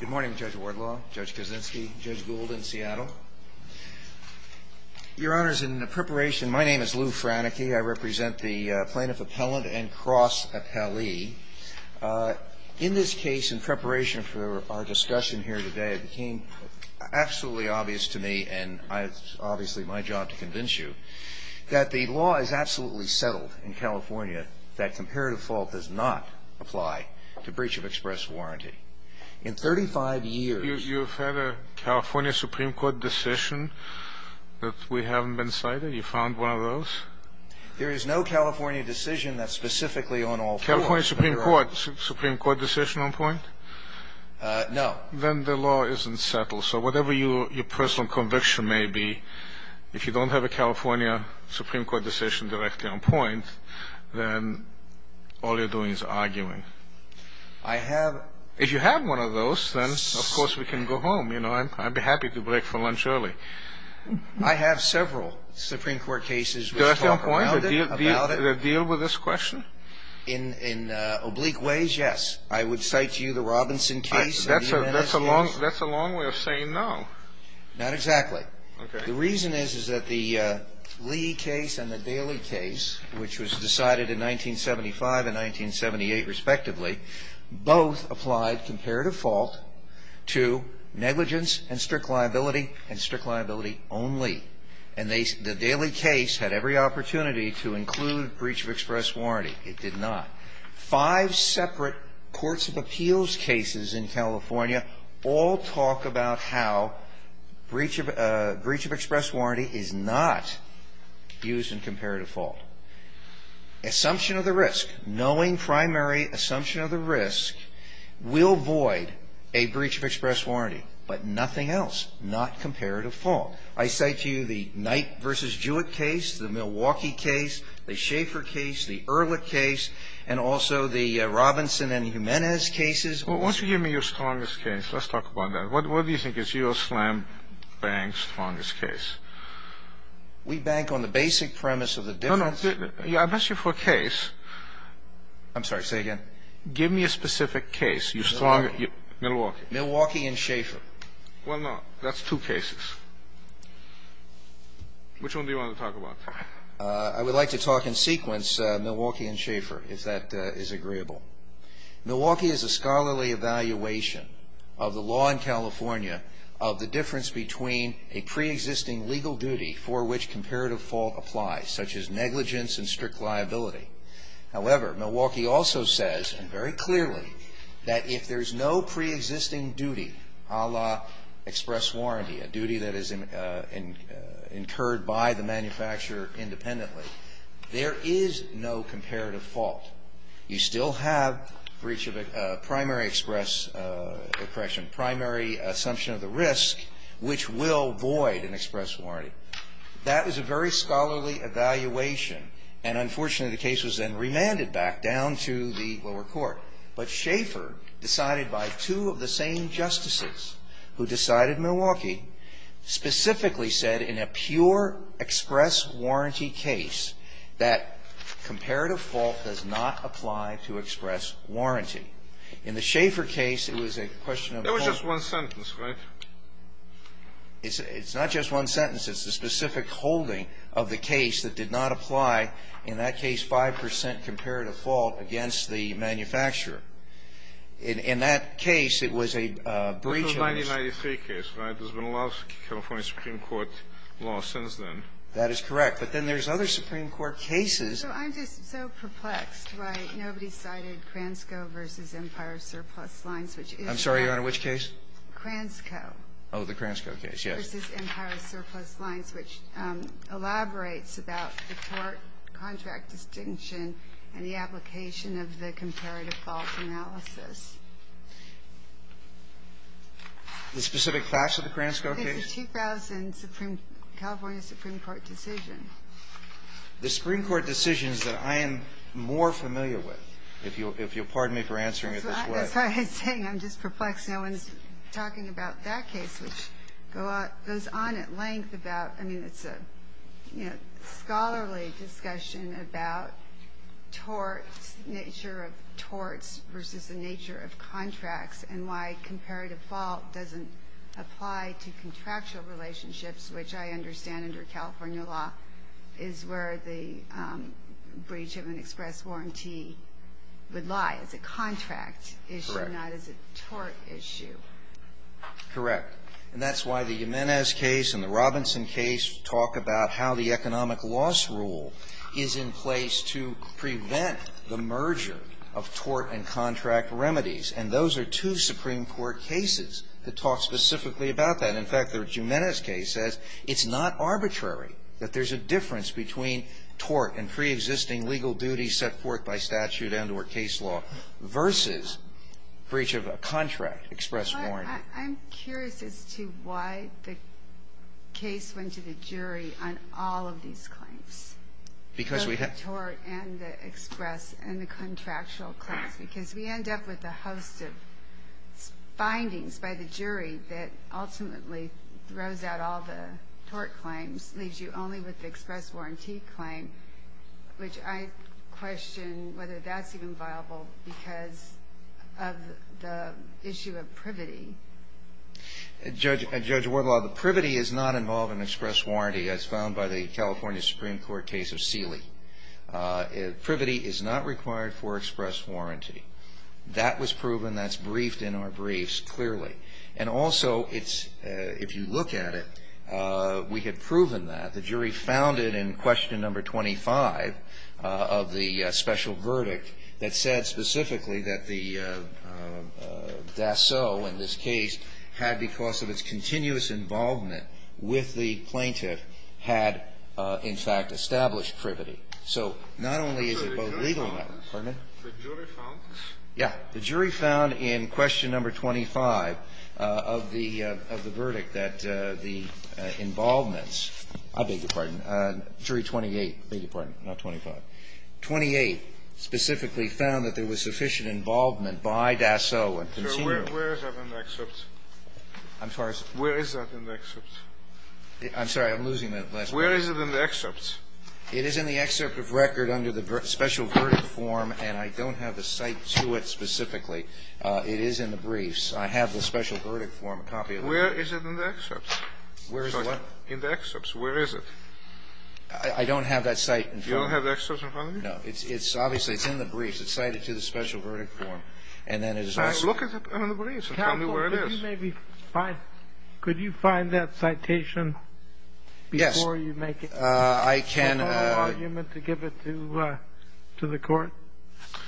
Good morning, Judge Wardlaw, Judge Kaczynski, Judge Gould in Seattle. Your Honors, in preparation, my name is Lew Franicki. I represent the plaintiff appellant and cross appellee. In this case, in preparation for our discussion here today, it became absolutely obvious to me, and it's obviously my job to convince you, that the law is absolutely settled in California that comparative fault does not apply to breach of express warranty. In 35 years... You've had a California Supreme Court decision that we haven't been cited? You found one of those? There is no California decision that's specifically on all fours. California Supreme Court decision on point? No. Then the law isn't settled. So whatever your personal conviction may be, if you don't have a California Supreme Court decision directly on point, then all you're doing is arguing. I have... If you have one of those, then, of course, we can go home, you know. I'd be happy to break for lunch early. I have several Supreme Court cases which talk about it. Do they still deal with this question? In oblique ways, yes. I would cite to you the Robinson case, the U.N.S.C. case. That's a long way of saying no. Not exactly. The reason is, is that the Lee case and the Daley case, which was decided in 1975 and 1978 respectively, both applied comparative fault to negligence and strict liability and strict liability only. And the Daley case had every opportunity to include breach of express warranty. It did not. Five separate courts of appeals cases in California all talk about how breach of express warranty is a primary assumption of the risk, knowing primary assumption of the risk will void a breach of express warranty, but nothing else, not comparative fault. I cite to you the Knight v. Jewett case, the Milwaukee case, the Schaeffer case, the Ehrlich case, and also the Robinson and Jimenez cases. Well, won't you give me your strongest case? Let's talk about that. What do you think is your slam-bang strongest case? We bank on the basic premise of the difference. No, no. I asked you for a case. I'm sorry. Say again. Give me a specific case, your strongest. Milwaukee. Milwaukee. Milwaukee and Schaeffer. Well, no. That's two cases. Which one do you want to talk about? I would like to talk in sequence, Milwaukee and Schaeffer, if that is agreeable. Milwaukee is a scholarly evaluation of the law in California of the difference between a preexisting legal duty for which comparative fault applies, such as negligence and strict liability. However, Milwaukee also says, and very clearly, that if there is no preexisting duty a la express warranty, a duty that is incurred by the manufacturer independently, there is no comparative fault. You still have breach of a primary express, correction, primary assumption of the risk, which will void an express warranty. That is a very scholarly evaluation. And unfortunately, the case was then remanded back down to the lower court. But Schaeffer, decided by two of the same justices who decided Milwaukee, specifically said, in a pure express warranty case, that comparative fault does not apply to express warranty. In the Schaeffer case, it was a question of fault. It was just one sentence, right? It's not just one sentence. It's the specific holding of the case that did not apply, in that case, 5 percent comparative fault against the manufacturer. In that case, it was a breach of this. And that's not a specific case. There's been a lot of California Supreme Court law since then. That is correct. But then there's other Supreme Court cases. So I'm just so perplexed why nobody cited Kransko v. Empire Surplus Lines, which is not the case. I'm sorry, Your Honor. Which case? Kransko. Oh, the Kransko case. Yes. v. Empire Surplus Lines, which elaborates about the tort contract distinction and the application of the comparative fault analysis. The specific class of the Kransko case? It's a 2000 California Supreme Court decision. The Supreme Court decision is that I am more familiar with, if you'll pardon me for answering it this way. That's what I was saying. I'm just perplexed no one's talking about that case, which goes on at length about, I mean, it's a scholarly discussion about torts, nature of torts versus the nature of contracts, and why comparative fault doesn't apply to contractual relationships, which I understand under California law is where the breach of an express warranty would lie, as a contract issue, not as a tort issue. Correct. Correct. And that's why the Jimenez case and the Robinson case talk about how the economic loss rule is in place to prevent the merger of tort and contract remedies. And those are two Supreme Court cases that talk specifically about that. In fact, the Jimenez case says it's not arbitrary that there's a difference between tort and preexisting legal duties set forth by statute and or case law versus breach of a contract express warranty. I'm curious as to why the case went to the jury on all of these claims, both the tort and the express and the contractual claims, because we end up with a host of findings by the jury that ultimately throws out all the tort claims, leaves you only with the express warranty claim, which I question whether that's even viable because of the issue of privity. Judge Wardlaw, the privity is not involved in express warranty as found by the California Supreme Court case of Seeley. Privity is not required for express warranty. That was proven. That's briefed in our briefs clearly. And also, if you look at it, we had proven that. The jury found it in question number 25 of the special verdict that said specifically that the DASO in this case had, because of its continuous involvement with the plaintiff, had, in fact, established privity. So not only is it both legal and not. Pardon me? The jury found? The jury found in question number 25 of the verdict that the involvements – I beg your pardon. Jury 28. I beg your pardon, not 25. 28 specifically found that there was sufficient involvement by DASO and continual. Where is that in the excerpt? I'm sorry? Where is that in the excerpt? I'm sorry. I'm losing my last word. Where is it in the excerpt? It is in the excerpt of record under the special verdict form, and I don't have a cite to it specifically. It is in the briefs. I have the special verdict form, a copy of it. Where is it in the excerpt? Where is what? In the excerpt. Where is it? I don't have that cite in front of me. You don't have the excerpt in front of you? No. It's obviously – it's in the briefs. It's cited to the special verdict form, and then it is also – Look at it in the briefs and tell me where it is. Counsel, could you maybe find – could you find that citation before you make it? Yes. I can – Is there no argument to give it to the court?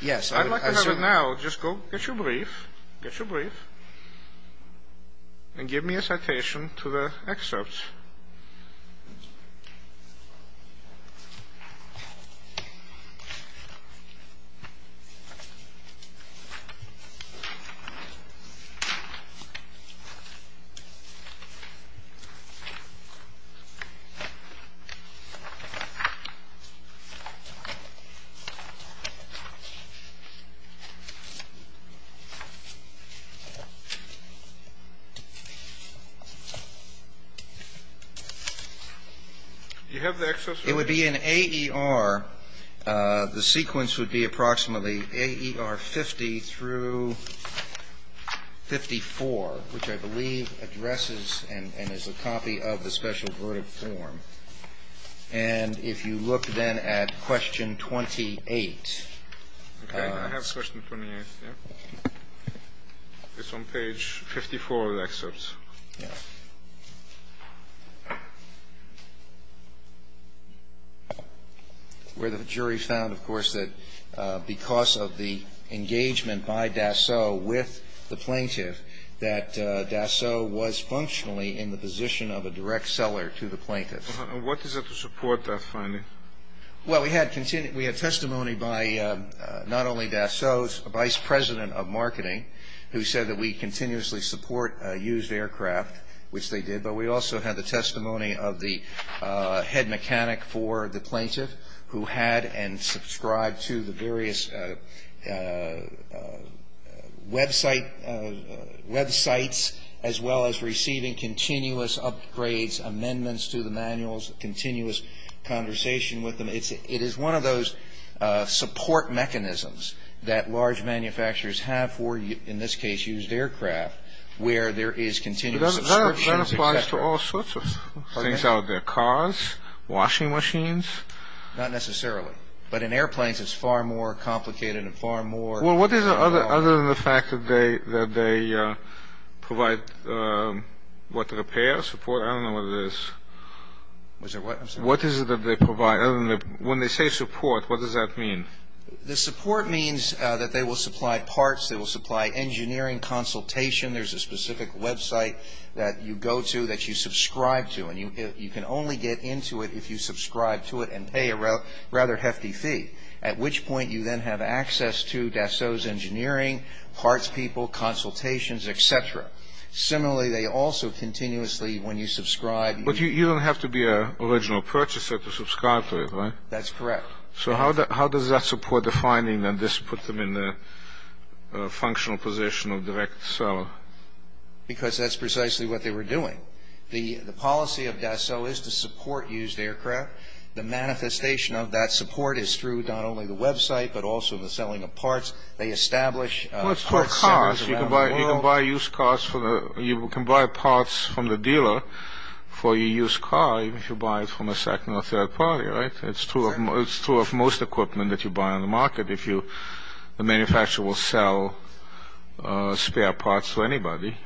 Yes. I'd like to have it now. Just go get your brief, get your brief, and give me a citation to the excerpt. Do you have the excerpt? It would be in AER. The sequence would be approximately AER 50 through 54, which I believe addresses and is a copy of the special verdict form. And if you look then at question 28. Okay. I have question 28. Yeah. It's on page 54 of the excerpt. Yeah. Where the jury found, of course, that because of the engagement by Dassault with the plaintiff that Dassault was functionally in the position of a direct seller to the plaintiff. What is there to support that finding? Well, we had testimony by not only Dassault, a vice president of marketing, who said that we continuously support used aircraft, which they did, but we also had the testimony of the head mechanic for the plaintiff who had and subscribed to the various websites as well as receiving continuous upgrades, amendments to the manuals, continuous conversation with them. It is one of those support mechanisms that large manufacturers have for, in this case, used aircraft where there is continuous subscriptions, et cetera. That applies to all sorts of things out there, cars, washing machines. Not necessarily. But in airplanes, it's far more complicated and far more. Well, what is it other than the fact that they provide, what, repair, support? I don't know what it is. What is it that they provide? When they say support, what does that mean? The support means that they will supply parts. They will supply engineering consultation. There's a specific website that you go to that you subscribe to, and you can only get into it if you subscribe to it and pay a rather hefty fee, at which point you then have access to Dassault's engineering, parts people, consultations, et cetera. Similarly, they also continuously, when you subscribe... But you don't have to be an original purchaser to subscribe to it, right? That's correct. So how does that support the finding that this puts them in the functional position of direct seller? Because that's precisely what they were doing. The policy of Dassault is to support used aircraft. The manifestation of that support is through not only the website but also the selling of parts. Well, it's for cars. You can buy used cars for the... You can buy parts from the dealer for your used car, even if you buy it from a second or third party, right? It's true of most equipment that you buy on the market. If you... The manufacturer will sell spare parts to anybody.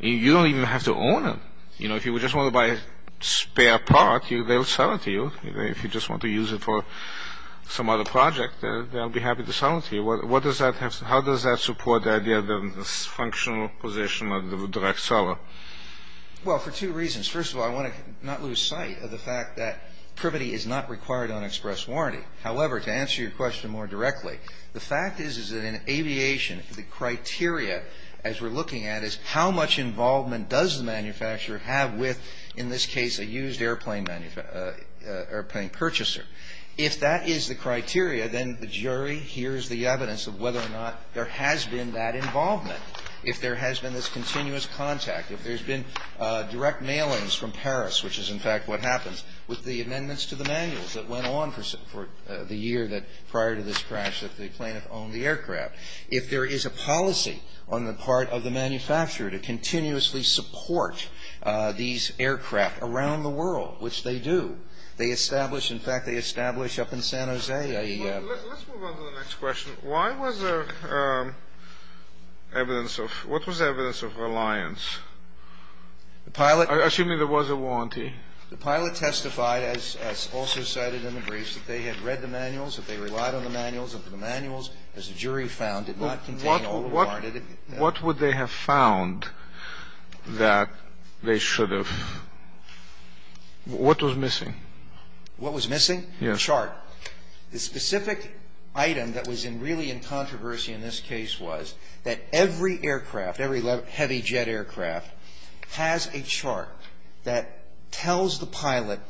You don't even have to own it. You know, if you just want to buy a spare part, they'll sell it to you. If you just want to use it for some other project, they'll be happy to sell it to you. What does that have... How does that support the idea of the functional position of the direct seller? Well, for two reasons. First of all, I want to not lose sight of the fact that privity is not required on express warranty. However, to answer your question more directly, the fact is that in aviation, the criteria, as we're looking at, is how much involvement does the manufacturer have with, in this case, a used airplane manufacturer... Airplane purchaser? If that is the criteria, then the jury hears the evidence of whether or not there has been that involvement. If there has been this continuous contact, if there's been direct mailings from Paris, which is, in fact, what happens with the amendments to the manuals that went on for the year prior to this crash that the plaintiff owned the aircraft. If there is a policy on the part of the manufacturer to continuously support these aircraft around the world, which they do, they establish... In fact, they establish up in San Jose a... Let's move on to the next question. Why was there evidence of... What was the evidence of reliance? The pilot... Assuming there was a warranty. The pilot testified, as also cited in the briefs, that they had read the manuals, that they relied on the manuals, that the manuals, as the jury found, did not contain... What would they have found that they should have... What was missing? What was missing? Yes. A chart. The specific item that was really in controversy in this case was that every aircraft, every heavy jet aircraft, has a chart that tells the pilot,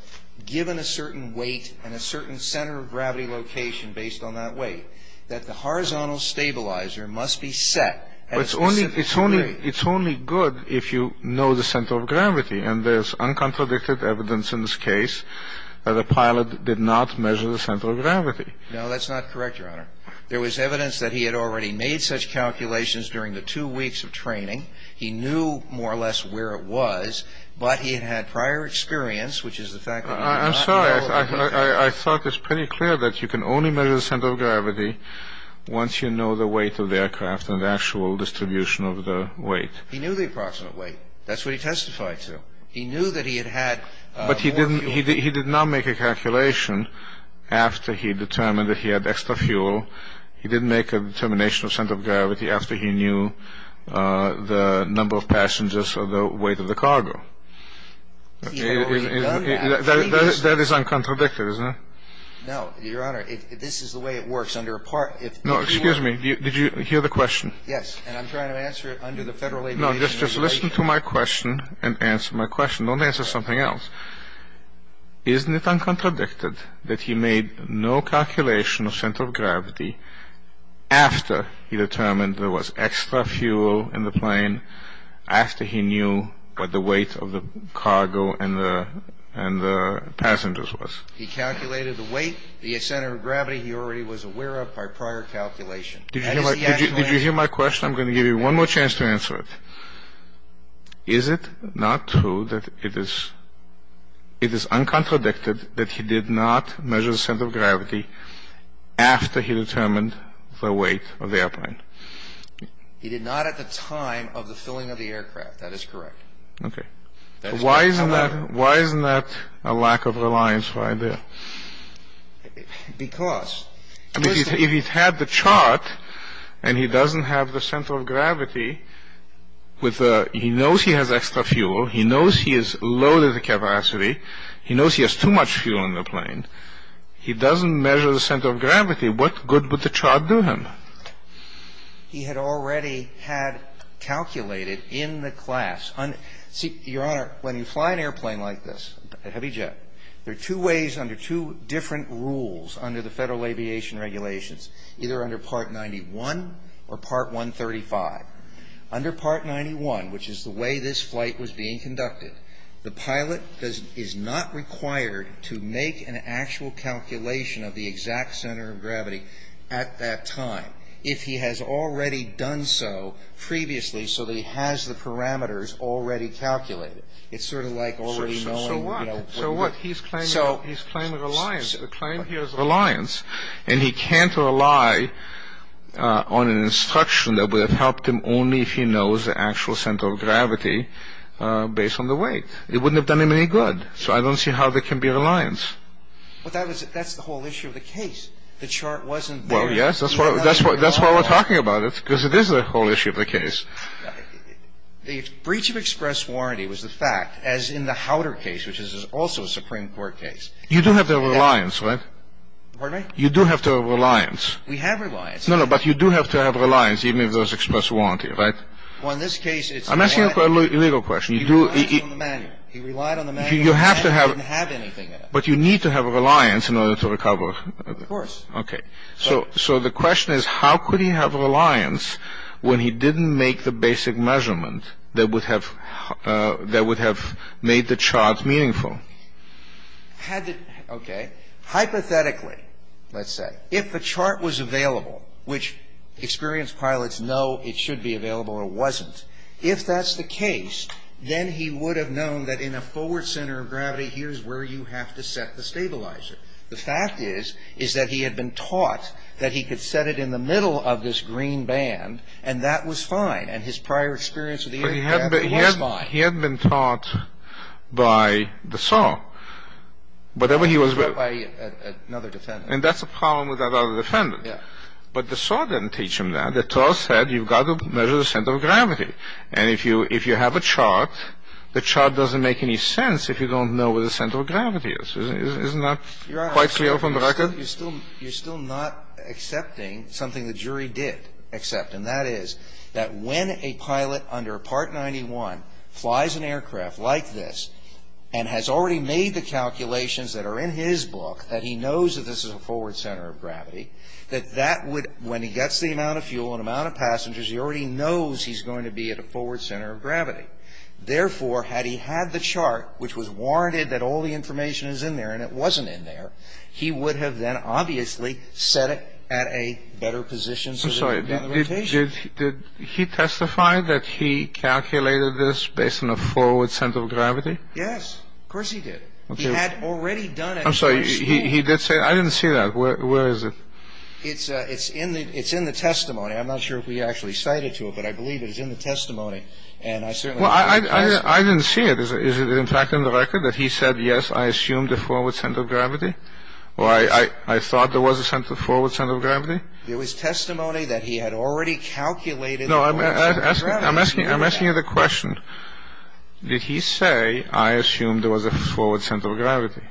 given a certain weight and a certain center of gravity location based on that weight, that the horizontal stabilizer must be set at a specific weight. It's only good if you know the center of gravity, and there's uncontradicted evidence in this case that the pilot did not measure the center of gravity. No, that's not correct, Your Honor. There was evidence that he had already made such calculations during the two weeks of training. He knew more or less where it was, but he had had prior experience, which is the fact that... I'm sorry. I thought it was pretty clear that you can only measure the center of gravity once you know the weight of the aircraft and the actual distribution of the weight. He knew the approximate weight. That's what he testified to. He knew that he had had more fuel... But he did not make a calculation after he determined that he had extra fuel. He didn't make a determination of center of gravity after he knew the number of passengers or the weight of the cargo. That is uncontradicted, isn't it? No, Your Honor. This is the way it works. No, excuse me. Did you hear the question? Yes, and I'm trying to answer it under the Federal Aviation Regulation. No, just listen to my question and answer my question. Don't answer something else. Isn't it uncontradicted that he made no calculation of center of gravity after he determined there was extra fuel in the plane, after he determined the weight of the cargo and the passengers? He calculated the weight, the center of gravity he already was aware of by prior calculation. Did you hear my question? I'm going to give you one more chance to answer it. Is it not true that it is uncontradicted that he did not measure the center of gravity after he determined the weight of the airplane? He did not at the time of the filling of the aircraft. That is correct. Okay. Why isn't that a lack of reliance right there? Because, listen. If he had the chart and he doesn't have the center of gravity, he knows he has extra fuel, he knows he has loaded the capacity, he knows he has too much fuel in the plane. He doesn't measure the center of gravity. If he had the chart and he doesn't have the center of gravity, what good would the chart do him? He had already had calculated in the class. Your Honor, when you fly an airplane like this, a heavy jet, there are two ways under two different rules under the Federal Aviation Regulations, either under Part 91 or Part 135. Under Part 91, which is the way this flight was being conducted, the pilot is not required to make an actual calculation of the exact center of gravity at that time if he has already done so previously so that he has the parameters already calculated. It's sort of like already knowing, you know. So what? He's claiming reliance. The claim here is reliance, and he can't rely on an instruction that would have helped him only if he knows the actual center of gravity based on the weight. It wouldn't have done him any good. So I don't see how there can be reliance. But that's the whole issue of the case. The chart wasn't there. Well, yes, that's why we're talking about it, because it is the whole issue of the case. The breach of express warranty was the fact, as in the Howder case, which is also a Supreme Court case. You do have to have reliance, right? Pardon me? You do have to have reliance. We have reliance. No, no, but you do have to have reliance, even if there's express warranty, right? Well, in this case, it's reliance. I'm asking a legal question. He relied on the manual. He relied on the manual. He didn't have anything in it. But you need to have reliance in order to recover. Of course. Okay. So the question is, how could he have reliance when he didn't make the basic measurement that would have made the chart meaningful? Okay. Hypothetically, let's say, if the chart was available, which experienced pilots know it should be available or wasn't, if that's the case, then he would have known that in a forward center of gravity, here's where you have to set the stabilizer. The fact is, is that he had been taught that he could set it in the middle of this green band, and that was fine. And his prior experience of the aircraft was fine. But he had been taught by the SOAR, whatever he was with. By another defendant. And that's the problem with that other defendant. Yeah. But the SOAR didn't teach him that. The SOAR said you've got to measure the center of gravity. And if you have a chart, the chart doesn't make any sense if you don't know where the center of gravity is. Isn't that quite clear from the record? Your Honor, you're still not accepting something the jury did accept, And that is that when a pilot under Part 91 flies an aircraft like this and has already made the calculations that are in his book, that he knows that this is a forward center of gravity, that that would, when he gets the amount of fuel and amount of passengers, he already knows he's going to be at a forward center of gravity. Therefore, had he had the chart, which was warranted that all the information is in there and it wasn't in there, he would have then obviously set it at a better position. I'm sorry. Did he testify that he calculated this based on a forward center of gravity? Yes. Of course he did. He had already done it. I'm sorry. He did say that. I didn't see that. Where is it? It's in the testimony. I'm not sure if we actually cited to it, but I believe it is in the testimony. And I certainly didn't see it. Well, I didn't see it. Is it in fact in the record that he said, yes, I assumed a forward center of gravity? Or I thought there was a forward center of gravity? There was testimony that he had already calculated. No, I'm asking you the question. Did he say, I assumed there was a forward center of gravity?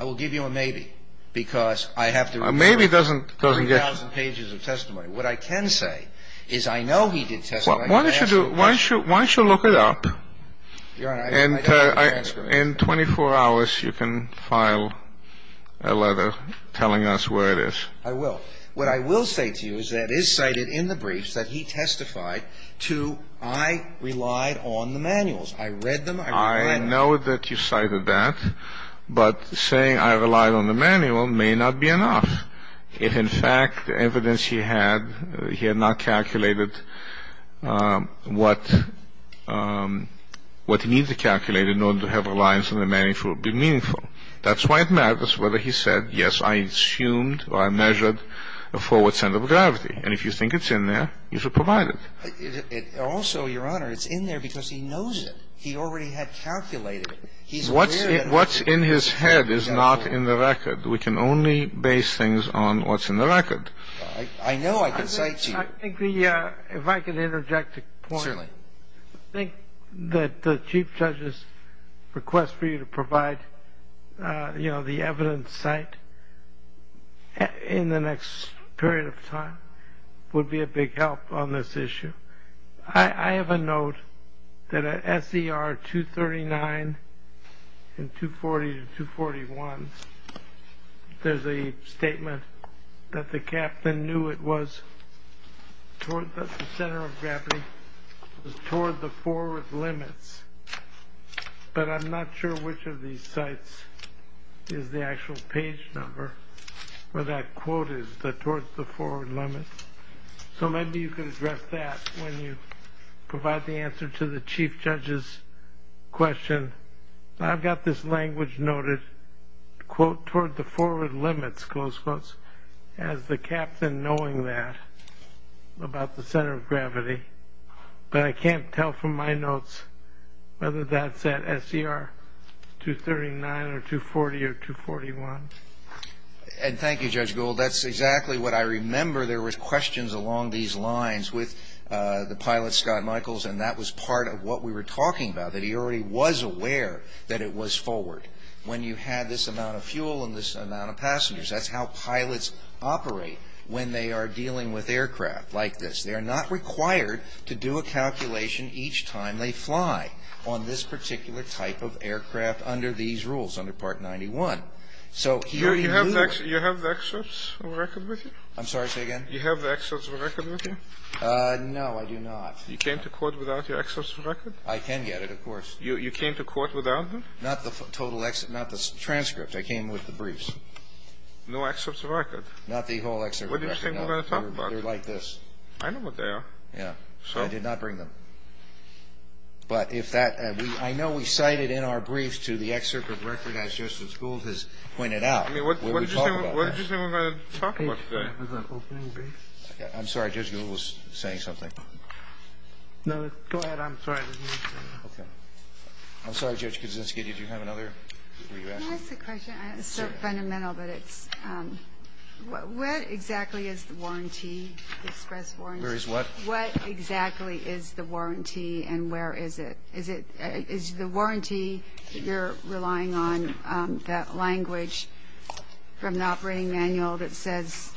I will give you a maybe because I have to... A maybe doesn't get... 3,000 pages of testimony. What I can say is I know he did testify. Why don't you look it up? In 24 hours you can file a letter telling us where it is. I will. What I will say to you is that it is cited in the briefs that he testified to I relied on the manuals. I read them. I know that you cited that. But saying I relied on the manual may not be enough. It's in fact evidence he had. He had not calculated what he needed to calculate in order to have a reliance on the manual would be meaningful. That's why it matters whether he said, yes, I assumed or I measured a forward center of gravity. And if you think it's in there, you should provide it. Also, Your Honor, it's in there because he knows it. He already had calculated it. What's in his head is not in the record. We can only base things on what's in the record. I know I can cite to you. If I could interject a point. Certainly. I think that the Chief Judge's request for you to provide, you know, the evidence cite in the next period of time would be a big help on this issue. I have a note that at SER 239 and 240 to 241, there's a statement that the captain knew it was toward the center of gravity, toward the forward limits. But I'm not sure which of these sites is the actual page number where that quote is, the towards the forward limits. So maybe you could address that when you provide the answer to the Chief Judge's question. I've got this language noted, quote, toward the forward limits, close quotes, as the captain knowing that about the center of gravity. But I can't tell from my notes whether that's at SER 239 or 240 or 241. And thank you, Judge Gould. Well, that's exactly what I remember. There was questions along these lines with the pilot, Scott Michaels, and that was part of what we were talking about, that he already was aware that it was forward. When you had this amount of fuel and this amount of passengers, that's how pilots operate when they are dealing with aircraft like this. They're not required to do a calculation each time they fly on this particular type of aircraft under these rules, under Part 91. Do you have the excerpts of the record with you? I'm sorry, say again? Do you have the excerpts of the record with you? No, I do not. You came to court without your excerpts of the record? I can get it, of course. You came to court without them? Not the transcript. I came with the briefs. No excerpts of the record? Not the whole excerpt of the record, no. They're like this. I know what they are. Yeah. I did not bring them. But if that, I know we cited in our briefs to the excerpt of the record as Justice Gould has pointed out. I mean, what did you say we're going to talk about today? I'm sorry, Judge Gould was saying something. No, go ahead. I'm sorry. I didn't mean to. Okay. I'm sorry, Judge Kaczynski, did you have another? Can I ask a question? Sure. It's so fundamental, but it's, what exactly is the warranty, the express warranty? Where is what? What exactly is the warranty and where is it? Is the warranty you're relying on that language from an operating manual that says,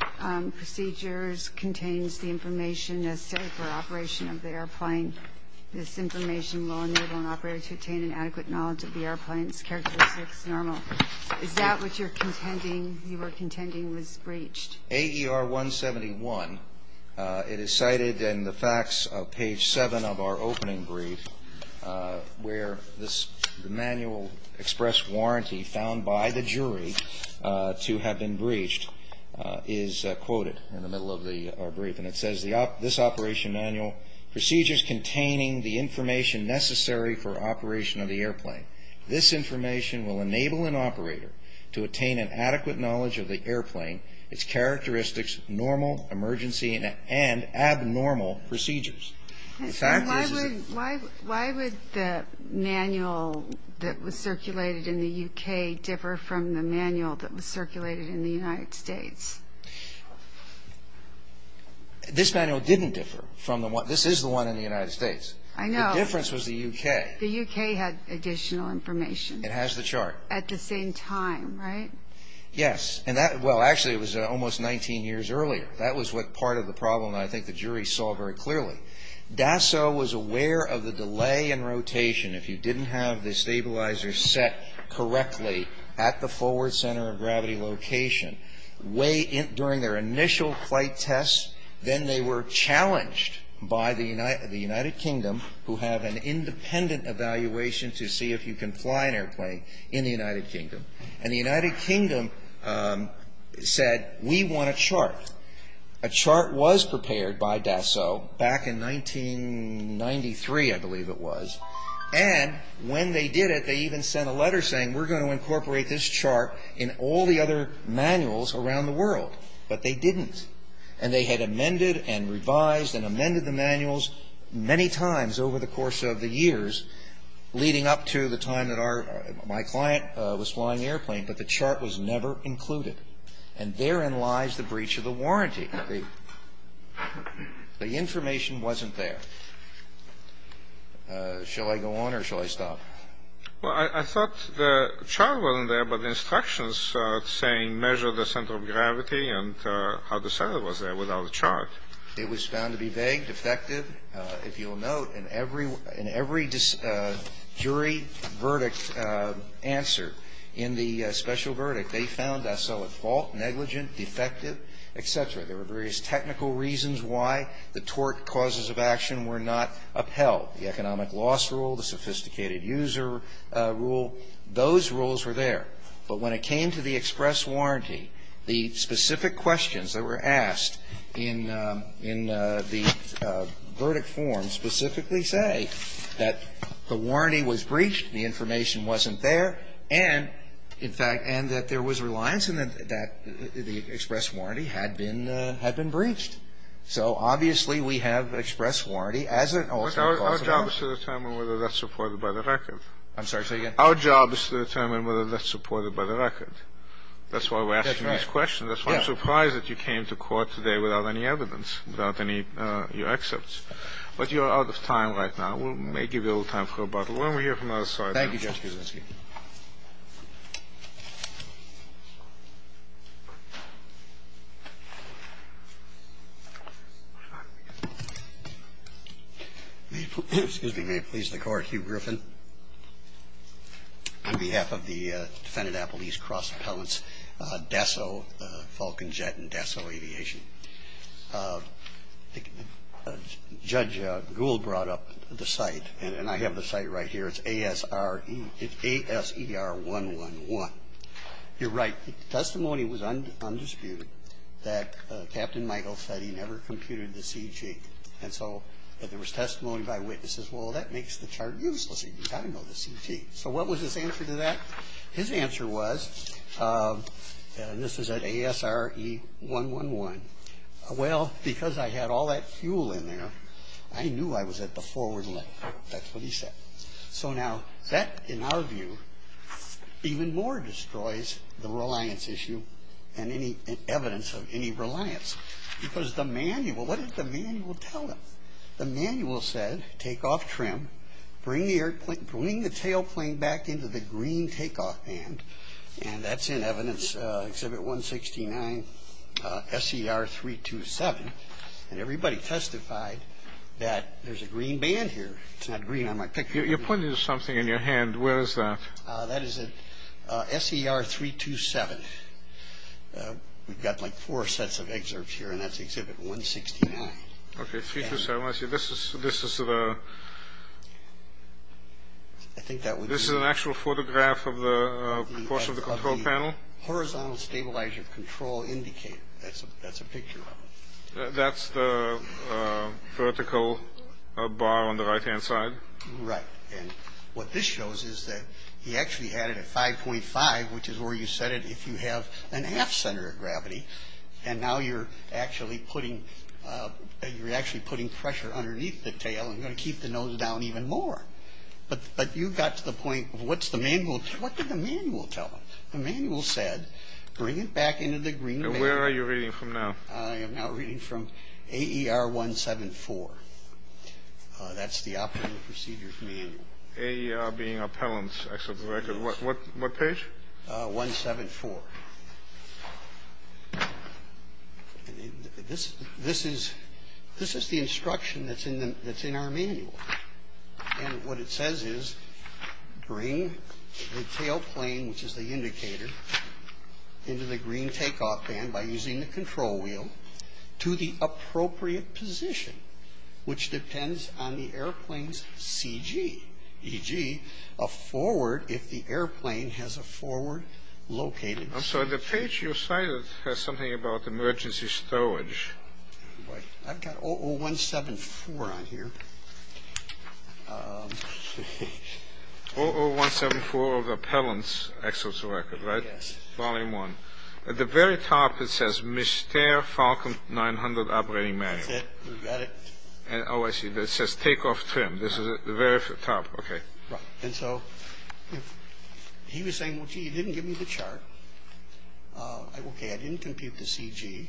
procedures contains the information necessary for operation of the airplane. This information will enable an operator to obtain an adequate knowledge of the airplane's characteristics normal. Is that what you were contending was breached? AER-171, it is cited in the facts of page seven of our opening brief, where the manual express warranty found by the jury to have been breached is quoted in the middle of our brief. And it says, this operation manual, procedures containing the information necessary for operation of the airplane. This information will enable an operator to attain an adequate knowledge of the airplane, its characteristics, normal, emergency, and abnormal procedures. Why would the manual that was circulated in the U.K. differ from the manual that was circulated in the United States? This manual didn't differ from the one, this is the one in the United States. I know. The difference was the U.K. The U.K. had additional information. It has the chart. At the same time, right? Yes. And that, well, actually it was almost 19 years earlier. That was what part of the problem I think the jury saw very clearly. DASO was aware of the delay in rotation. If you didn't have the stabilizers set correctly at the forward center of gravity location during their initial flight tests, then they were challenged by the United Kingdom who have an independent evaluation to see if you can fly an airplane in the United Kingdom. And the United Kingdom said, we want a chart. A chart was prepared by DASO back in 1993, I believe it was. And when they did it, they even sent a letter saying, we're going to incorporate this chart in all the other manuals around the world. But they didn't. And they had amended and revised and amended the manuals many times over the course of the years, leading up to the time that my client was flying the airplane, but the chart was never included. And therein lies the breach of the warranty. The information wasn't there. Shall I go on or shall I stop? Well, I thought the chart wasn't there, but the instructions saying measure the center of gravity and how to set it was there without a chart. It was found to be vague, defective. If you'll note, in every jury verdict answer in the special verdict, they found DASO at fault, negligent, defective, et cetera. There were various technical reasons why the tort causes of action were not upheld, the economic loss rule, the sophisticated user rule. Those rules were there. But when it came to the express warranty, the specific questions that were asked in the verdict form specifically say that the warranty was breached, the information wasn't there, and, in fact, and that there was reliance and that the express warranty had been breached. So, obviously, we have an express warranty as an ultimate possibility. But our job is to determine whether that's supported by the record. I'm sorry, say that again? Our job is to determine whether that's supported by the record. That's why we're asking these questions. That's why I'm surprised that you came to court today without any evidence, without any of your excerpts. But you are out of time right now. We may give you a little time for rebuttal when we hear from the other side. Thank you, Judge Kuczynski. Thank you. Excuse me. May it please the Court, Hugh Griffin. On behalf of the Defendant Appellee's Cross Appellant's DESO, Falcon Jet and DESO Aviation, Judge Gould brought up the site, and I have the site right here. It's A-S-E-R-1-1-1. You're right. The testimony was undisputed that Captain Michael said he never computed the CG. And so there was testimony by witnesses, well, that makes the chart useless. You've got to know the CT. So what was his answer to that? His answer was, and this is at A-S-R-E-1-1-1, well, because I had all that fuel in there, I knew I was at the forward link. That's what he said. So now that, in our view, even more destroys the reliance issue and any evidence of any reliance. Because the manual, what did the manual tell him? The manual said, take off trim, bring the airplane, bring the tailplane back into the green takeoff band, and that's in Evidence Exhibit 169 S-E-R-3-2-7. And everybody testified that there's a green band here. It's not green on my picture. You're pointing to something in your hand. Where is that? That is at S-E-R-3-2-7. We've got, like, four sets of excerpts here, and that's Exhibit 169. Okay, 3-2-7. This is an actual photograph of the course of the control panel? Horizontal stabilizer control indicator. That's a picture of it. That's the vertical bar on the right-hand side? Right. And what this shows is that he actually had it at 5.5, which is where you set it if you have an aft center of gravity, and now you're actually putting pressure underneath the tail and going to keep the nose down even more. But you got to the point of what's the manual? What did the manual tell him? The manual said, bring it back into the green band. And where are you reading from now? I am now reading from AER 174. That's the Operating Procedures Manual. AER being appellants, I suppose. What page? 174. This is the instruction that's in our manual. And what it says is, bring the tail plane, which is the indicator, into the green takeoff band by using the control wheel to the appropriate position, which depends on the airplane's CG, e.g., a forward if the airplane has a forward-located CG. I'm sorry, the page you cited has something about emergency storage. I've got OO-174 on here. OO-174 of appellants, Excel's Record, right? Yes. Volume 1. At the very top it says, Mystere Falcon 900 Operating Manual. That's it. We've got it. Oh, I see. It says takeoff trim. This is at the very top. Okay. Right. And so he was saying, well, gee, he didn't give me the chart. Okay, I didn't compute the CG,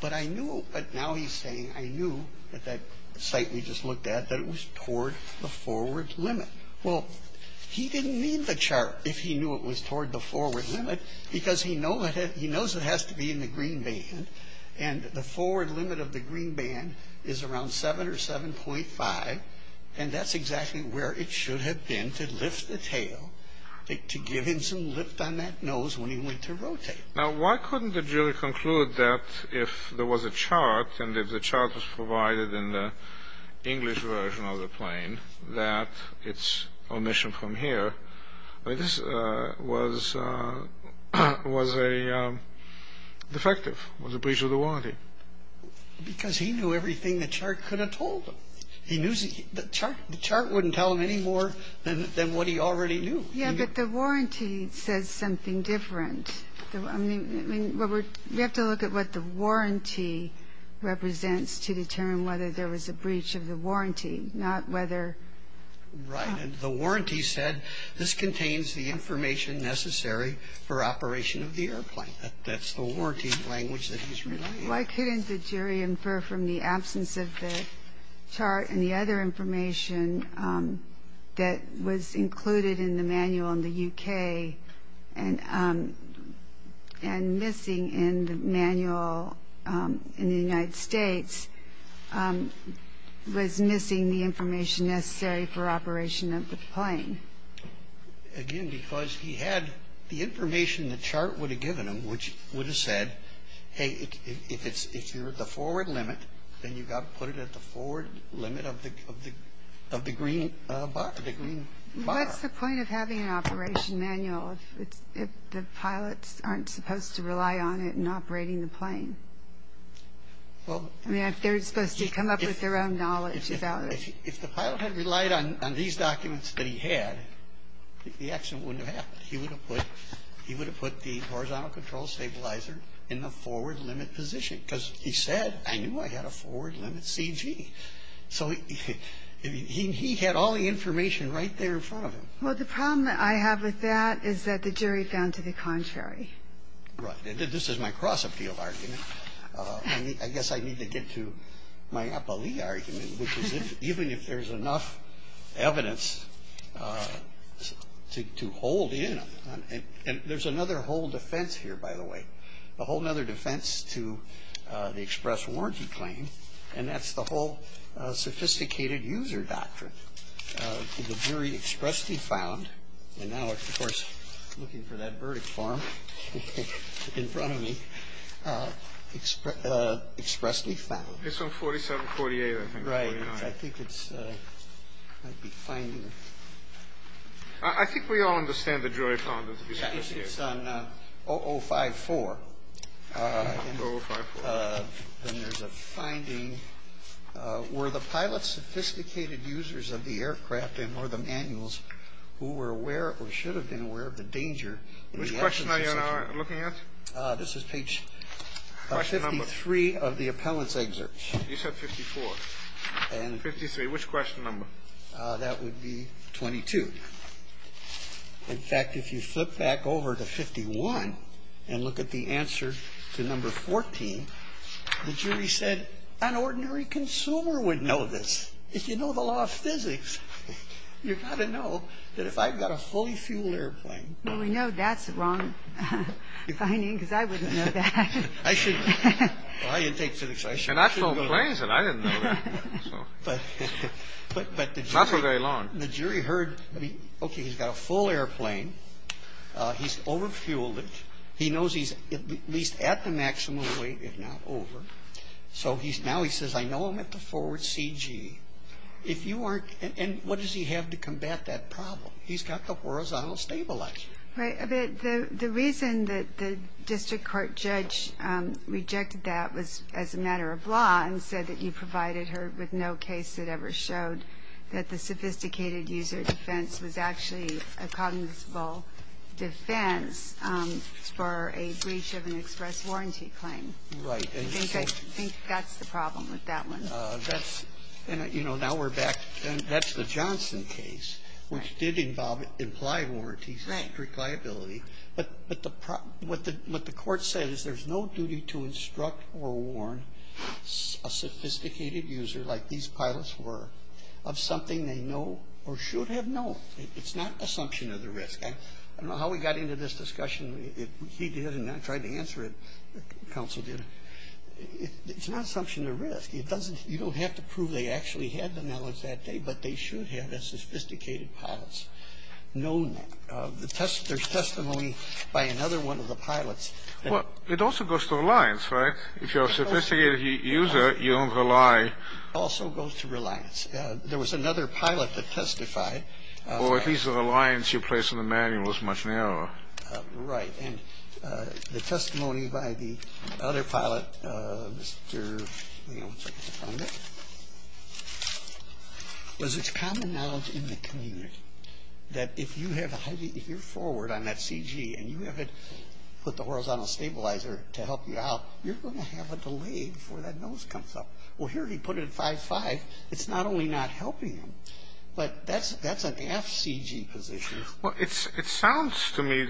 but I knew, but now he's saying, I knew at that site we just looked at that it was toward the forward limit. Well, he didn't need the chart if he knew it was toward the forward limit, because he knows it has to be in the green band, and the forward limit of the green band is around 7 or 7.5, and that's exactly where it should have been to lift the tail, to give him some lift on that nose when he went to rotate. Now, why couldn't the jury conclude that if there was a chart and if the chart was provided in the English version of the plane, that its omission from here was a defective, was a breach of the warranty? Because he knew everything the chart could have told him. The chart wouldn't tell him any more than what he already knew. Yeah, but the warranty says something different. I mean, we have to look at what the warranty represents to determine whether there was a breach of the warranty, not whether... Right, and the warranty said this contains the information necessary for operation of the airplane. That's the warranty language that he's relying on. Why couldn't the jury infer from the absence of the chart and the other information that was included in the manual in the U.K. and missing in the manual in the United States was missing the information necessary for operation of the plane? Again, because he had the information the chart would have given him, which would have said, hey, if you're at the forward limit, then you've got to put it at the forward limit of the green bar. What's the point of having an operation manual if the pilots aren't supposed to rely on it in operating the plane? I mean, if they're supposed to come up with their own knowledge about it. If the pilot had relied on these documents that he had, the accident wouldn't have happened. He would have put the horizontal control stabilizer in the forward limit position because he said, I knew I had a forward limit CG. So he had all the information right there in front of him. Well, the problem that I have with that is that the jury found to the contrary. Right. This is my cross-appeal argument. I guess I need to get to my appellee argument, even if there's enough evidence to hold in. And there's another whole defense here, by the way, a whole other defense to the express warranty claim, and that's the whole sophisticated user doctrine. The jury expressly found, and now, of course, looking for that verdict form in front of me, expressly found. It's on 4748, I think. Right. I think it might be finding. I think we all understand the jury found it. It's on 0054. 0054. And there's a finding. Were the pilot's sophisticated users of the aircraft and or the manuals who were aware or should have been aware of the danger in the accident? Which question are you looking at? This is page 53 of the appellant's excerpt. You said 54. 53. Which question number? That would be 22. In fact, if you flip back over to 51 and look at the answer to number 14, the jury said an ordinary consumer would know this. If you know the law of physics, you've got to know that if I've got a fully fueled airplane. Well, we know that's the wrong finding, because I wouldn't know that. I shouldn't. I didn't take physics. And I flew planes, and I didn't know that. Not for very long. But the jury heard, okay, he's got a full airplane. He's over-fueled it. He knows he's at least at the maximum weight, if not over. So now he says, I know I'm at the forward CG. If you aren't, and what does he have to combat that problem? He's got the horizontal stabilizer. Right. The reason that the district court judge rejected that was as a matter of law and said that you provided her with no case that ever showed that the sophisticated user defense was actually a cognizant defense for a breach of an express warranty claim. Right. I think that's the problem with that one. That's, you know, now we're back. That's the Johnson case, which did involve implied warranties, direct liability. But what the court said is there's no duty to instruct or warn a sophisticated user, like these pilots were, of something they know or should have known. It's not assumption of the risk. I don't know how we got into this discussion. He did, and I tried to answer it. Counsel did. It's not assumption of risk. It doesn't, you don't have to prove they actually had the knowledge that day, but they should have, as sophisticated pilots, known that. There's testimony by another one of the pilots. Well, it also goes to reliance, right? If you're a sophisticated user, you don't rely. It also goes to reliance. There was another pilot that testified. Well, at least the reliance you place on the manual is much narrower. Right. And the testimony by the other pilot, Mr. Leone, second defendant, was it's common knowledge in the community that if you're forward on that CG and you haven't put the horizontal stabilizer to help you out, you're going to have a delay before that nose comes up. Well, here he put it at 5.5. It's not only not helping him, but that's an aft CG position. Well, it sounds to me,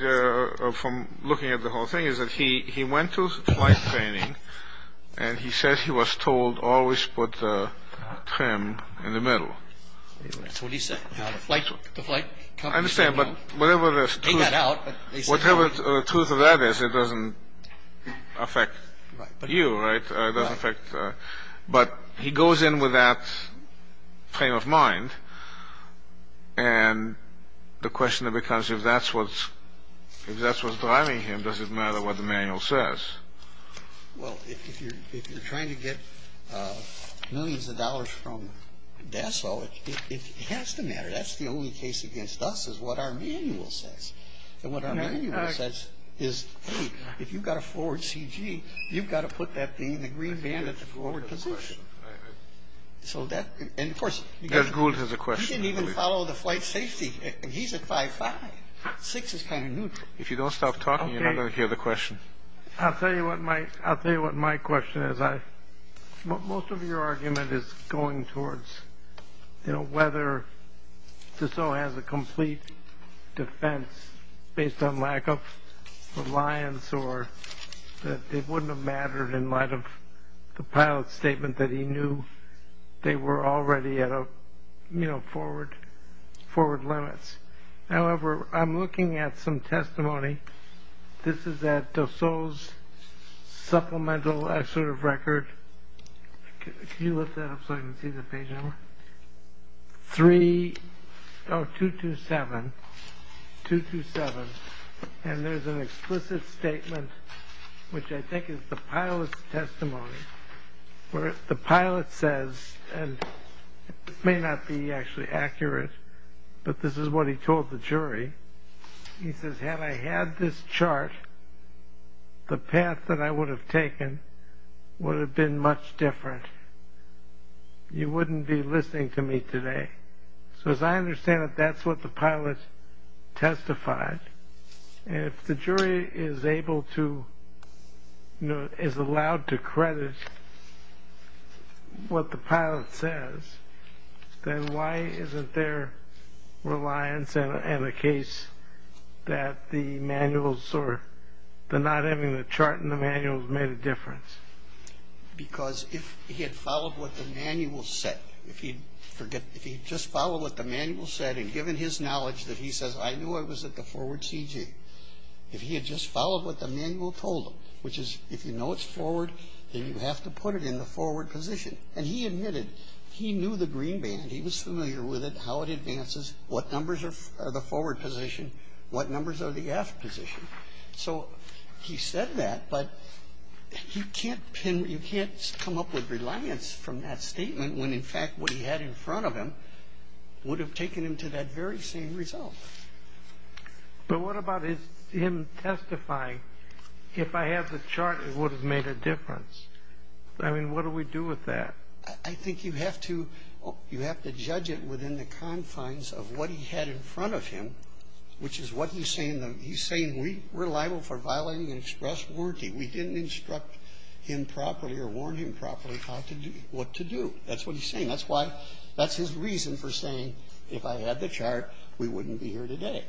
from looking at the whole thing, is that he went to flight training and he says he was told always put the trim in the middle. That's what he said. The flight company said, you know, take that out. Whatever the truth of that is, it doesn't affect you, right? It doesn't affect, but he goes in with that frame of mind and the question becomes if that's what's driving him, does it matter what the manual says? Well, if you're trying to get millions of dollars from Dassault, it has to matter. That's the only case against us is what our manual says. And what our manual says is, hey, if you've got a forward CG, you've got to put that green band at the forward position. And, of course, he didn't even follow the flight safety. He's at 5.5. 6 is kind of neutral. If you don't stop talking, you're not going to hear the question. I'll tell you what my question is. Most of your argument is going towards, you know, whether Dassault has a complete defense based on lack of reliance or that it wouldn't have mattered in light of the pilot's statement that he knew they were already at, you know, forward limits. However, I'm looking at some testimony. This is at Dassault's supplemental assertive record. Can you lift that up so I can see the page number? 227, 227. And there's an explicit statement, which I think is the pilot's testimony, where the pilot says, and this may not be actually accurate, but this is what he told the jury. He says, had I had this chart, the path that I would have taken would have been much different. You wouldn't be listening to me today. So as I understand it, that's what the pilot testified. If the jury is able to, you know, is allowed to credit what the pilot says, then why isn't there reliance in a case that the manuals or the not having the chart in the manuals made a difference? Because if he had followed what the manual said, if he had just followed what the manual said and given his knowledge that he says, I knew I was at the forward CG, if he had just followed what the manual told him, which is if you know it's forward, then you have to put it in the forward position. And he admitted he knew the green band. He was familiar with it, how it advances, what numbers are the forward position, what numbers are the aft position. So he said that, but you can't come up with reliance from that statement when in fact what he had in front of him would have taken him to that very same result. But what about him testifying, if I had the chart, it would have made a difference. I mean, what do we do with that? I think you have to judge it within the confines of what he had in front of him, which is what he's saying. He's saying we're liable for violating an express warranty. We didn't instruct him properly or warn him properly what to do. That's what he's saying. That's his reason for saying, if I had the chart, we wouldn't be here today.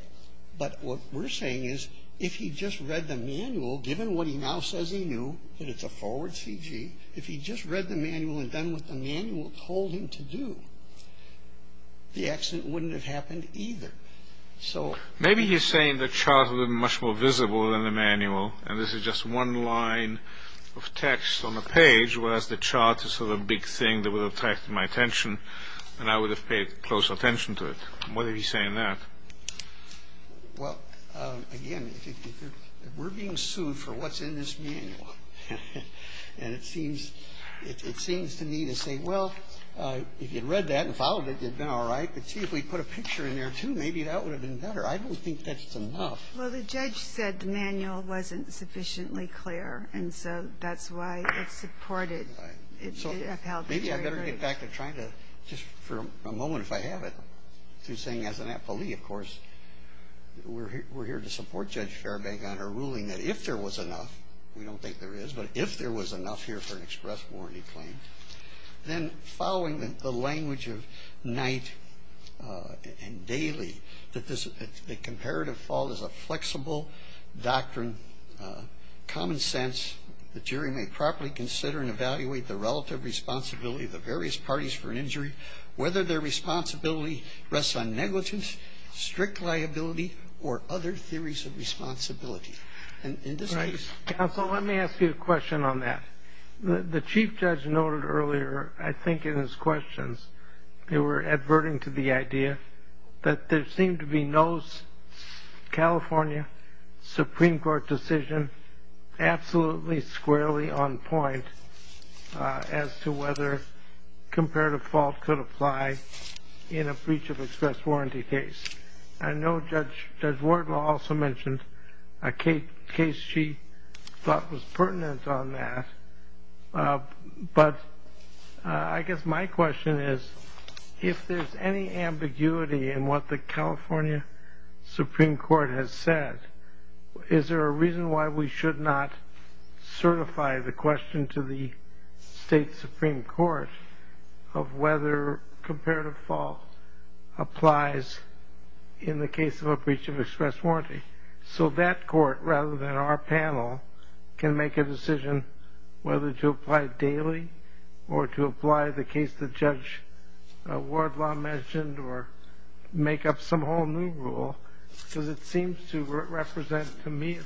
But what we're saying is if he just read the manual, given what he now says he knew that it's a forward CG, if he just read the manual and done what the manual told him to do, the accident wouldn't have happened either. Maybe he's saying the chart would have been much more visible than the manual and this is just one line of text on a page, whereas the chart is sort of a big thing that would have attracted my attention and I would have paid close attention to it. What did he say in that? Well, again, we're being sued for what's in this manual. And it seems to me to say, well, if you'd read that and followed it, you'd have been all right. I could see if we put a picture in there, too. Maybe that would have been better. I don't think that's enough. Well, the judge said the manual wasn't sufficiently clear, and so that's why it's supported. Maybe I'd better get back to trying to just for a moment, if I have it, to saying as an appellee, of course, we're here to support Judge Fairbank on her ruling that if there was enough, we don't think there is, but if there was enough here for an express warranty claim, then following the language of Knight and Daly, that the comparative fault is a flexible doctrine, common sense, the jury may properly consider and evaluate the relative responsibility of the various parties for an injury, whether their responsibility rests on negligence, strict liability, or other theories of responsibility. Right. Counsel, let me ask you a question on that. The chief judge noted earlier, I think in his questions, they were adverting to the idea that there seemed to be no California Supreme Court decision absolutely squarely on point as to whether comparative fault could apply in a breach of express warranty case. I know Judge Wardlaw also mentioned a case she thought was pertinent on that, but I guess my question is, if there's any ambiguity in what the California Supreme Court has said, is there a reason why we should not certify the question to the state Supreme Court of whether comparative fault applies in the case of a breach of express warranty, so that court, rather than our panel, can make a decision whether to apply daily or to apply the case that Judge Wardlaw mentioned or make up some whole new rule, because it seems to represent to me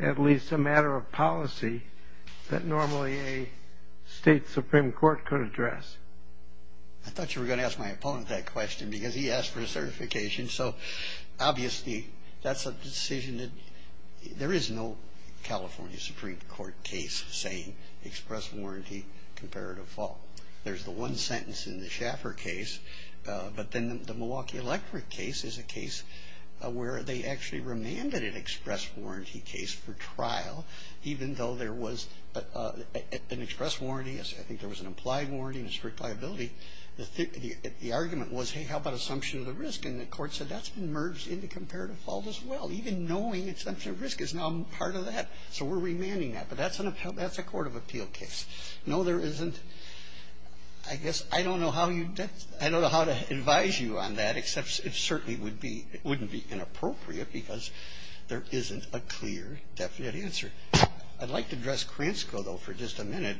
at least a matter of policy that normally a state Supreme Court could address. I thought you were going to ask my opponent that question, because he asked for a certification, so obviously that's a decision that there is no California Supreme Court case saying express warranty comparative fault. There's the one sentence in the Schaffer case, but then the Milwaukee Electric case is a case where they actually remanded an express warranty case for trial, even though there was an express warranty. I think there was an implied warranty and a strict liability. The argument was, hey, how about assumption of the risk? And the Court said that's been merged into comparative fault as well, even knowing assumption of risk is now part of that. So we're remanding that. But that's a court of appeal case. No, there isn't. I guess I don't know how to advise you on that, except it certainly wouldn't be inappropriate because there isn't a clear, definite answer. I'd like to address Kransko, though, for just a minute.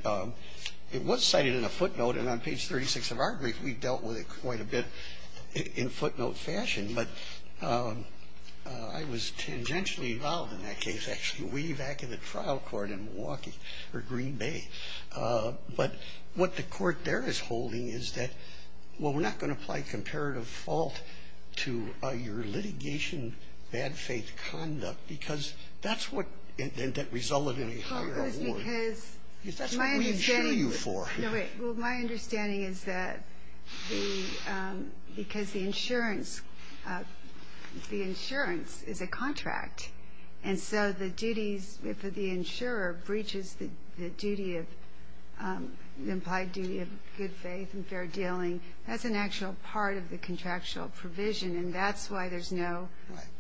It was cited in a footnote, and on page 36 of our brief we've dealt with it quite a bit in footnote fashion. But I was tangentially involved in that case, actually way back in the trial court in Milwaukee or Green Bay. But what the court there is holding is that, well, we're not going to apply comparative fault to your litigation, bad faith conduct, because that's what resulted in a higher award. Because that's what we insure you for. No, wait. Well, my understanding is that the ‑‑ because the insurance is a contract, and so the duties for the insurer breaches the duty of ‑‑ the implied duty of good faith and fair dealing. That's an actual part of the contractual provision, and that's why there's no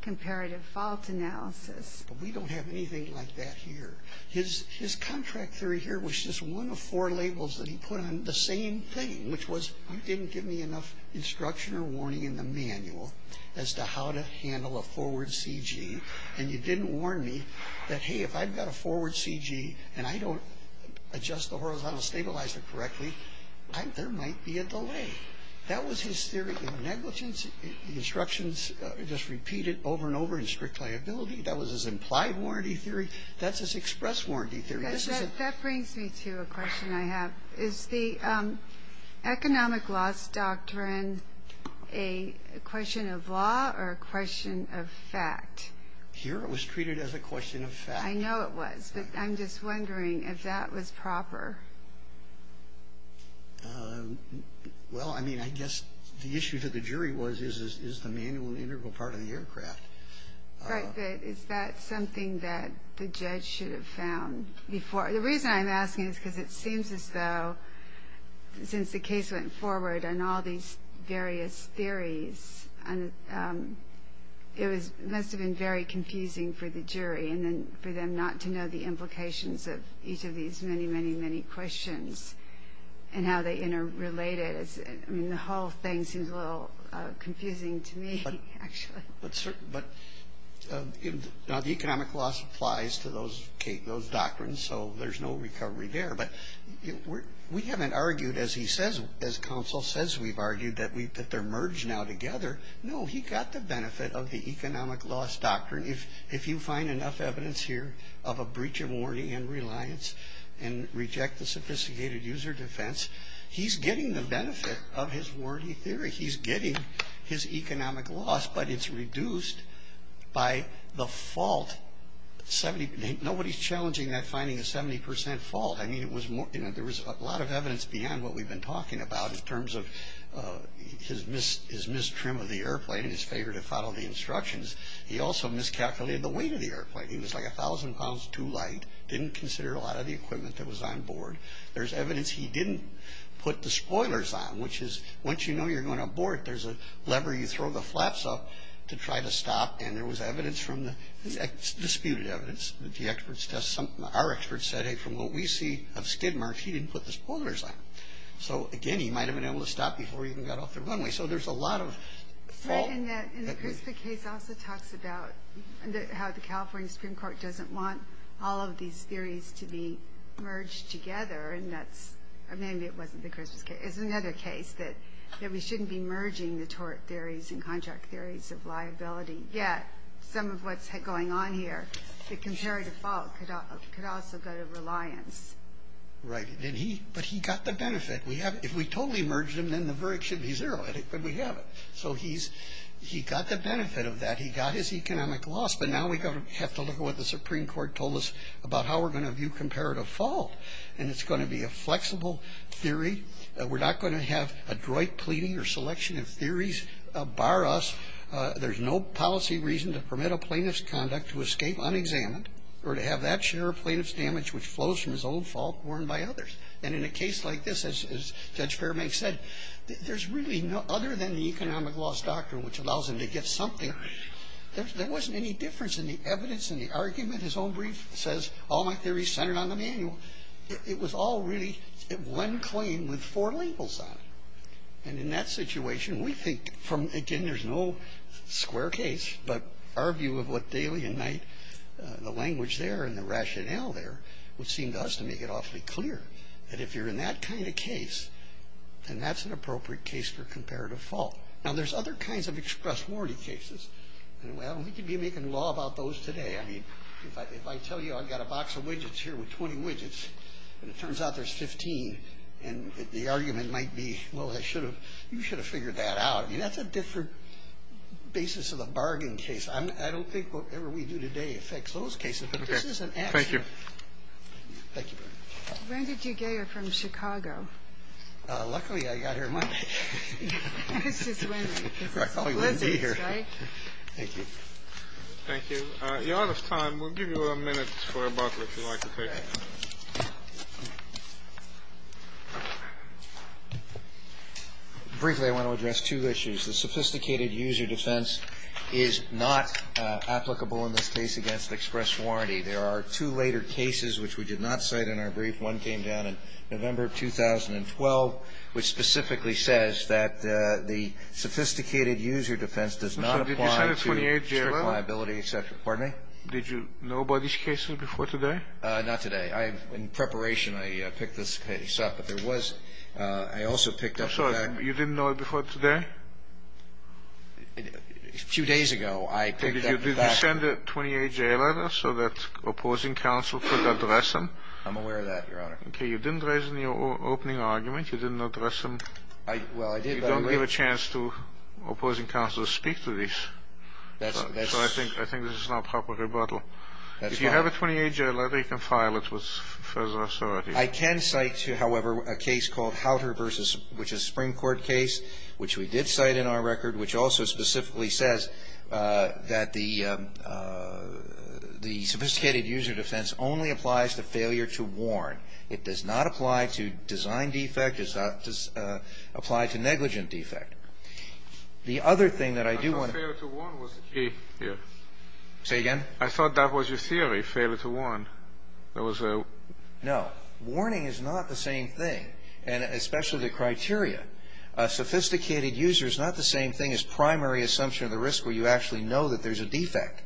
comparative fault analysis. But we don't have anything like that here. His contract theory here was just one of four labels that he put on the same thing, which was you didn't give me enough instruction or warning in the manual as to how to handle a forward CG, and you didn't warn me that, hey, if I've got a forward CG and I don't adjust the horizontal stabilizer correctly, there might be a delay. That was his theory of negligence. The instructions just repeated over and over in strict liability. That was his implied warranty theory. That's his express warranty theory. That brings me to a question I have. Is the economic loss doctrine a question of law or a question of fact? Here it was treated as a question of fact. I know it was, but I'm just wondering if that was proper. Well, I mean, I guess the issue to the jury was is the manual integral part of the aircraft. Right, but is that something that the judge should have found before? The reason I'm asking is because it seems as though since the case went forward and all these various theories, it must have been very confusing for the jury and then for them not to know the implications of each of these many, many, many questions and how they interrelated. I mean, the whole thing seems a little confusing to me, actually. But the economic loss applies to those doctrines, so there's no recovery there. But we haven't argued, as he says, as counsel says we've argued, that they're merged now together. No, he got the benefit of the economic loss doctrine. If you find enough evidence here of a breach of warranty and reliance and reject the sophisticated user defense, he's getting the benefit of his warranty theory. He's getting his economic loss, but it's reduced by the fault. Nobody's challenging that finding a 70 percent fault. I mean, there was a lot of evidence beyond what we've been talking about in terms of his mistrim of the airplane and his failure to follow the instructions. He also miscalculated the weight of the airplane. He was like 1,000 pounds too light, didn't consider a lot of the equipment that was on board. There's evidence he didn't put the spoilers on, which is once you know you're going on board, there's a lever you throw the flaps up to try to stop, and there was evidence from the disputed evidence that the experts test something. Our experts said, hey, from what we see of skid marks, he didn't put the spoilers on. So, again, he might have been able to stop before he even got off the runway. So there's a lot of fault. And the CRISPR case also talks about how the California Supreme Court doesn't want all of these theories to be merged together, and that's maybe it wasn't the CRISPR case. It's another case that we shouldn't be merging the tort theories and contract theories of liability, yet some of what's going on here, the comparative fault could also go to reliance. Right, but he got the benefit. If we totally merged them, then the verdict should be zero, but we haven't. So he's got the benefit of that. He got his economic loss, but now we have to look at what the Supreme Court told us about how we're going to view comparative fault, and it's going to be a flexible theory. We're not going to have a droit pleading or selection of theories bar us. There's no policy reason to permit a plaintiff's conduct to escape unexamined or to have that share of plaintiff's damage which flows from his own fault borne by others. And in a case like this, as Judge Fairbank said, there's really no other than the economic loss doctrine which allows him to get something. There wasn't any difference in the evidence and the argument. His own brief says all my theories centered on the manual. It was all really one claim with four labels on it. And in that situation, we think from, again, there's no square case, but our view of what daily and night, the language there and the rationale there, which seemed to us to make it awfully clear that if you're in that kind of case, then that's an appropriate case for comparative fault. Now, there's other kinds of express warranty cases, and, well, we could be making law about those today. I mean, if I tell you I've got a box of widgets here with 20 widgets, and it turns out there's 15, and the argument might be, well, you should have figured that out. I mean, that's a different basis of the bargain case. I don't think whatever we do today affects those cases, but this is an accident. Thank you. Thank you. Brenda Dugay from Chicago. Luckily, I got here Monday. It's just windy. It's blizzard, right? Thank you. Thank you. You're out of time. We'll give you a minute for a butler, if you'd like to take it. Briefly, I want to address two issues. The sophisticated user defense is not applicable in this case against express warranty. There are two later cases which we did not cite in our brief. One came down in November of 2012, which specifically says that the sophisticated user defense does not apply to express liability, et cetera. Pardon me? Did you know about these cases before today? Not today. In preparation, I picked this case up, but there was – I also picked up the fact that – I'm sorry. A few days ago, I picked up the fact – Did you send a 28-J letter so that opposing counsel could address them? I'm aware of that, Your Honor. Okay. You didn't raise it in your opening argument. You didn't address them. Well, I did, but – You don't give a chance to opposing counsel to speak to these. That's – So I think this is not a proper rebuttal. If you have a 28-J letter, you can file it with the Federal Authority. I can cite, however, a case called Howter v. – which is a Supreme Court case, which we did cite in our record, which also specifically says that the sophisticated user defense only applies to failure to warn. It does not apply to design defect. It does not apply to negligent defect. The other thing that I do want to – I thought failure to warn was the key here. Say again? I thought that was your theory, failure to warn. There was a – No. Warning is not the same thing, and especially the criteria. Sophisticated user is not the same thing as primary assumption of the risk where you actually know that there's a defect.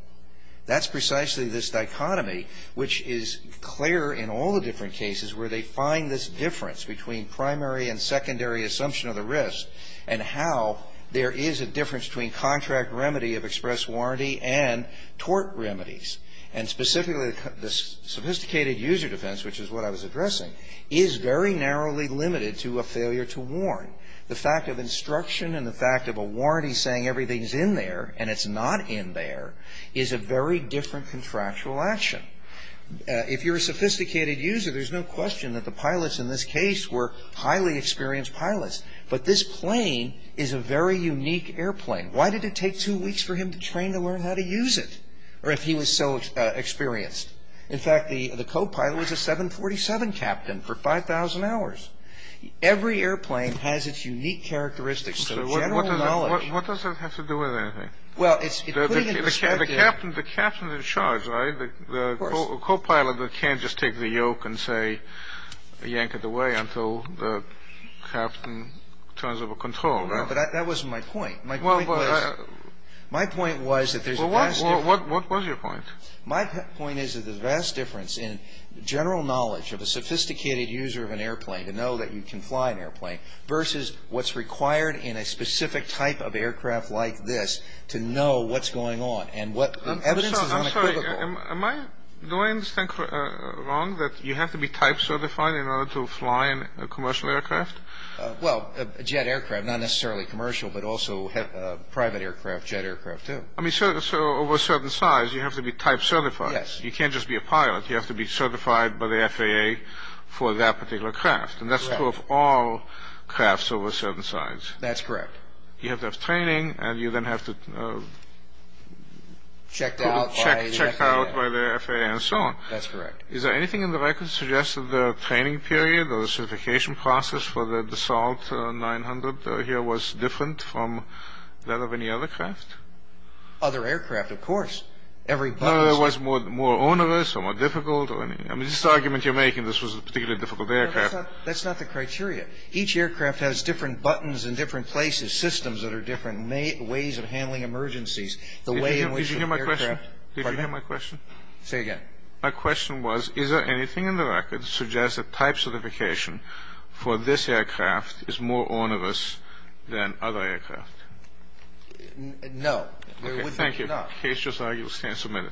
That's precisely this dichotomy, which is clear in all the different cases, where they find this difference between primary and secondary assumption of the risk and how there is a difference between contract remedy of express warranty and tort remedies. And specifically, the sophisticated user defense, which is what I was addressing, is very narrowly limited to a failure to warn. The fact of instruction and the fact of a warranty saying everything's in there and it's not in there is a very different contractual action. If you're a sophisticated user, there's no question that the pilots in this case were highly experienced pilots. But this plane is a very unique airplane. Why did it take two weeks for him to train to learn how to use it? Or if he was so experienced. In fact, the copilot was a 747 captain for 5,000 hours. Every airplane has its unique characteristics. So the general knowledge – What does that have to do with anything? Well, it's – The captain's in charge, right? Of course. The copilot can't just take the yoke and, say, yank it away until the captain turns over control, right? No, but that wasn't my point. My point was – Well, but – What was your point? My point is that there's a vast difference in general knowledge of a sophisticated user of an airplane to know that you can fly an airplane versus what's required in a specific type of aircraft like this to know what's going on and what evidence is unequivocal. I'm sorry. Am I – Do I understand wrong that you have to be type certified in order to fly a commercial aircraft? Well, a jet aircraft, not necessarily commercial, but also private aircraft, jet aircraft, too. I mean, so over a certain size, you have to be type certified. Yes. You can't just be a pilot. You have to be certified by the FAA for that particular craft, and that's true of all crafts over a certain size. That's correct. You have to have training, and you then have to – Checked out by the FAA. Checked out by the FAA and so on. That's correct. Is there anything in the record that suggests that the training period or the certification process for the DeSalt 900 here was different from that of any other craft? Other aircraft, of course. No, it was more onerous or more difficult or anything. I mean, this argument you're making, this was a particularly difficult aircraft. That's not the criteria. Each aircraft has different buttons in different places, systems that are different, ways of handling emergencies, the way in which the aircraft – Did you hear my question? Pardon me? Say again. My question was, is there anything in the record that suggests that type certification for this aircraft is more onerous than other aircraft? No. Okay, thank you. Case just argued. Stand submitted.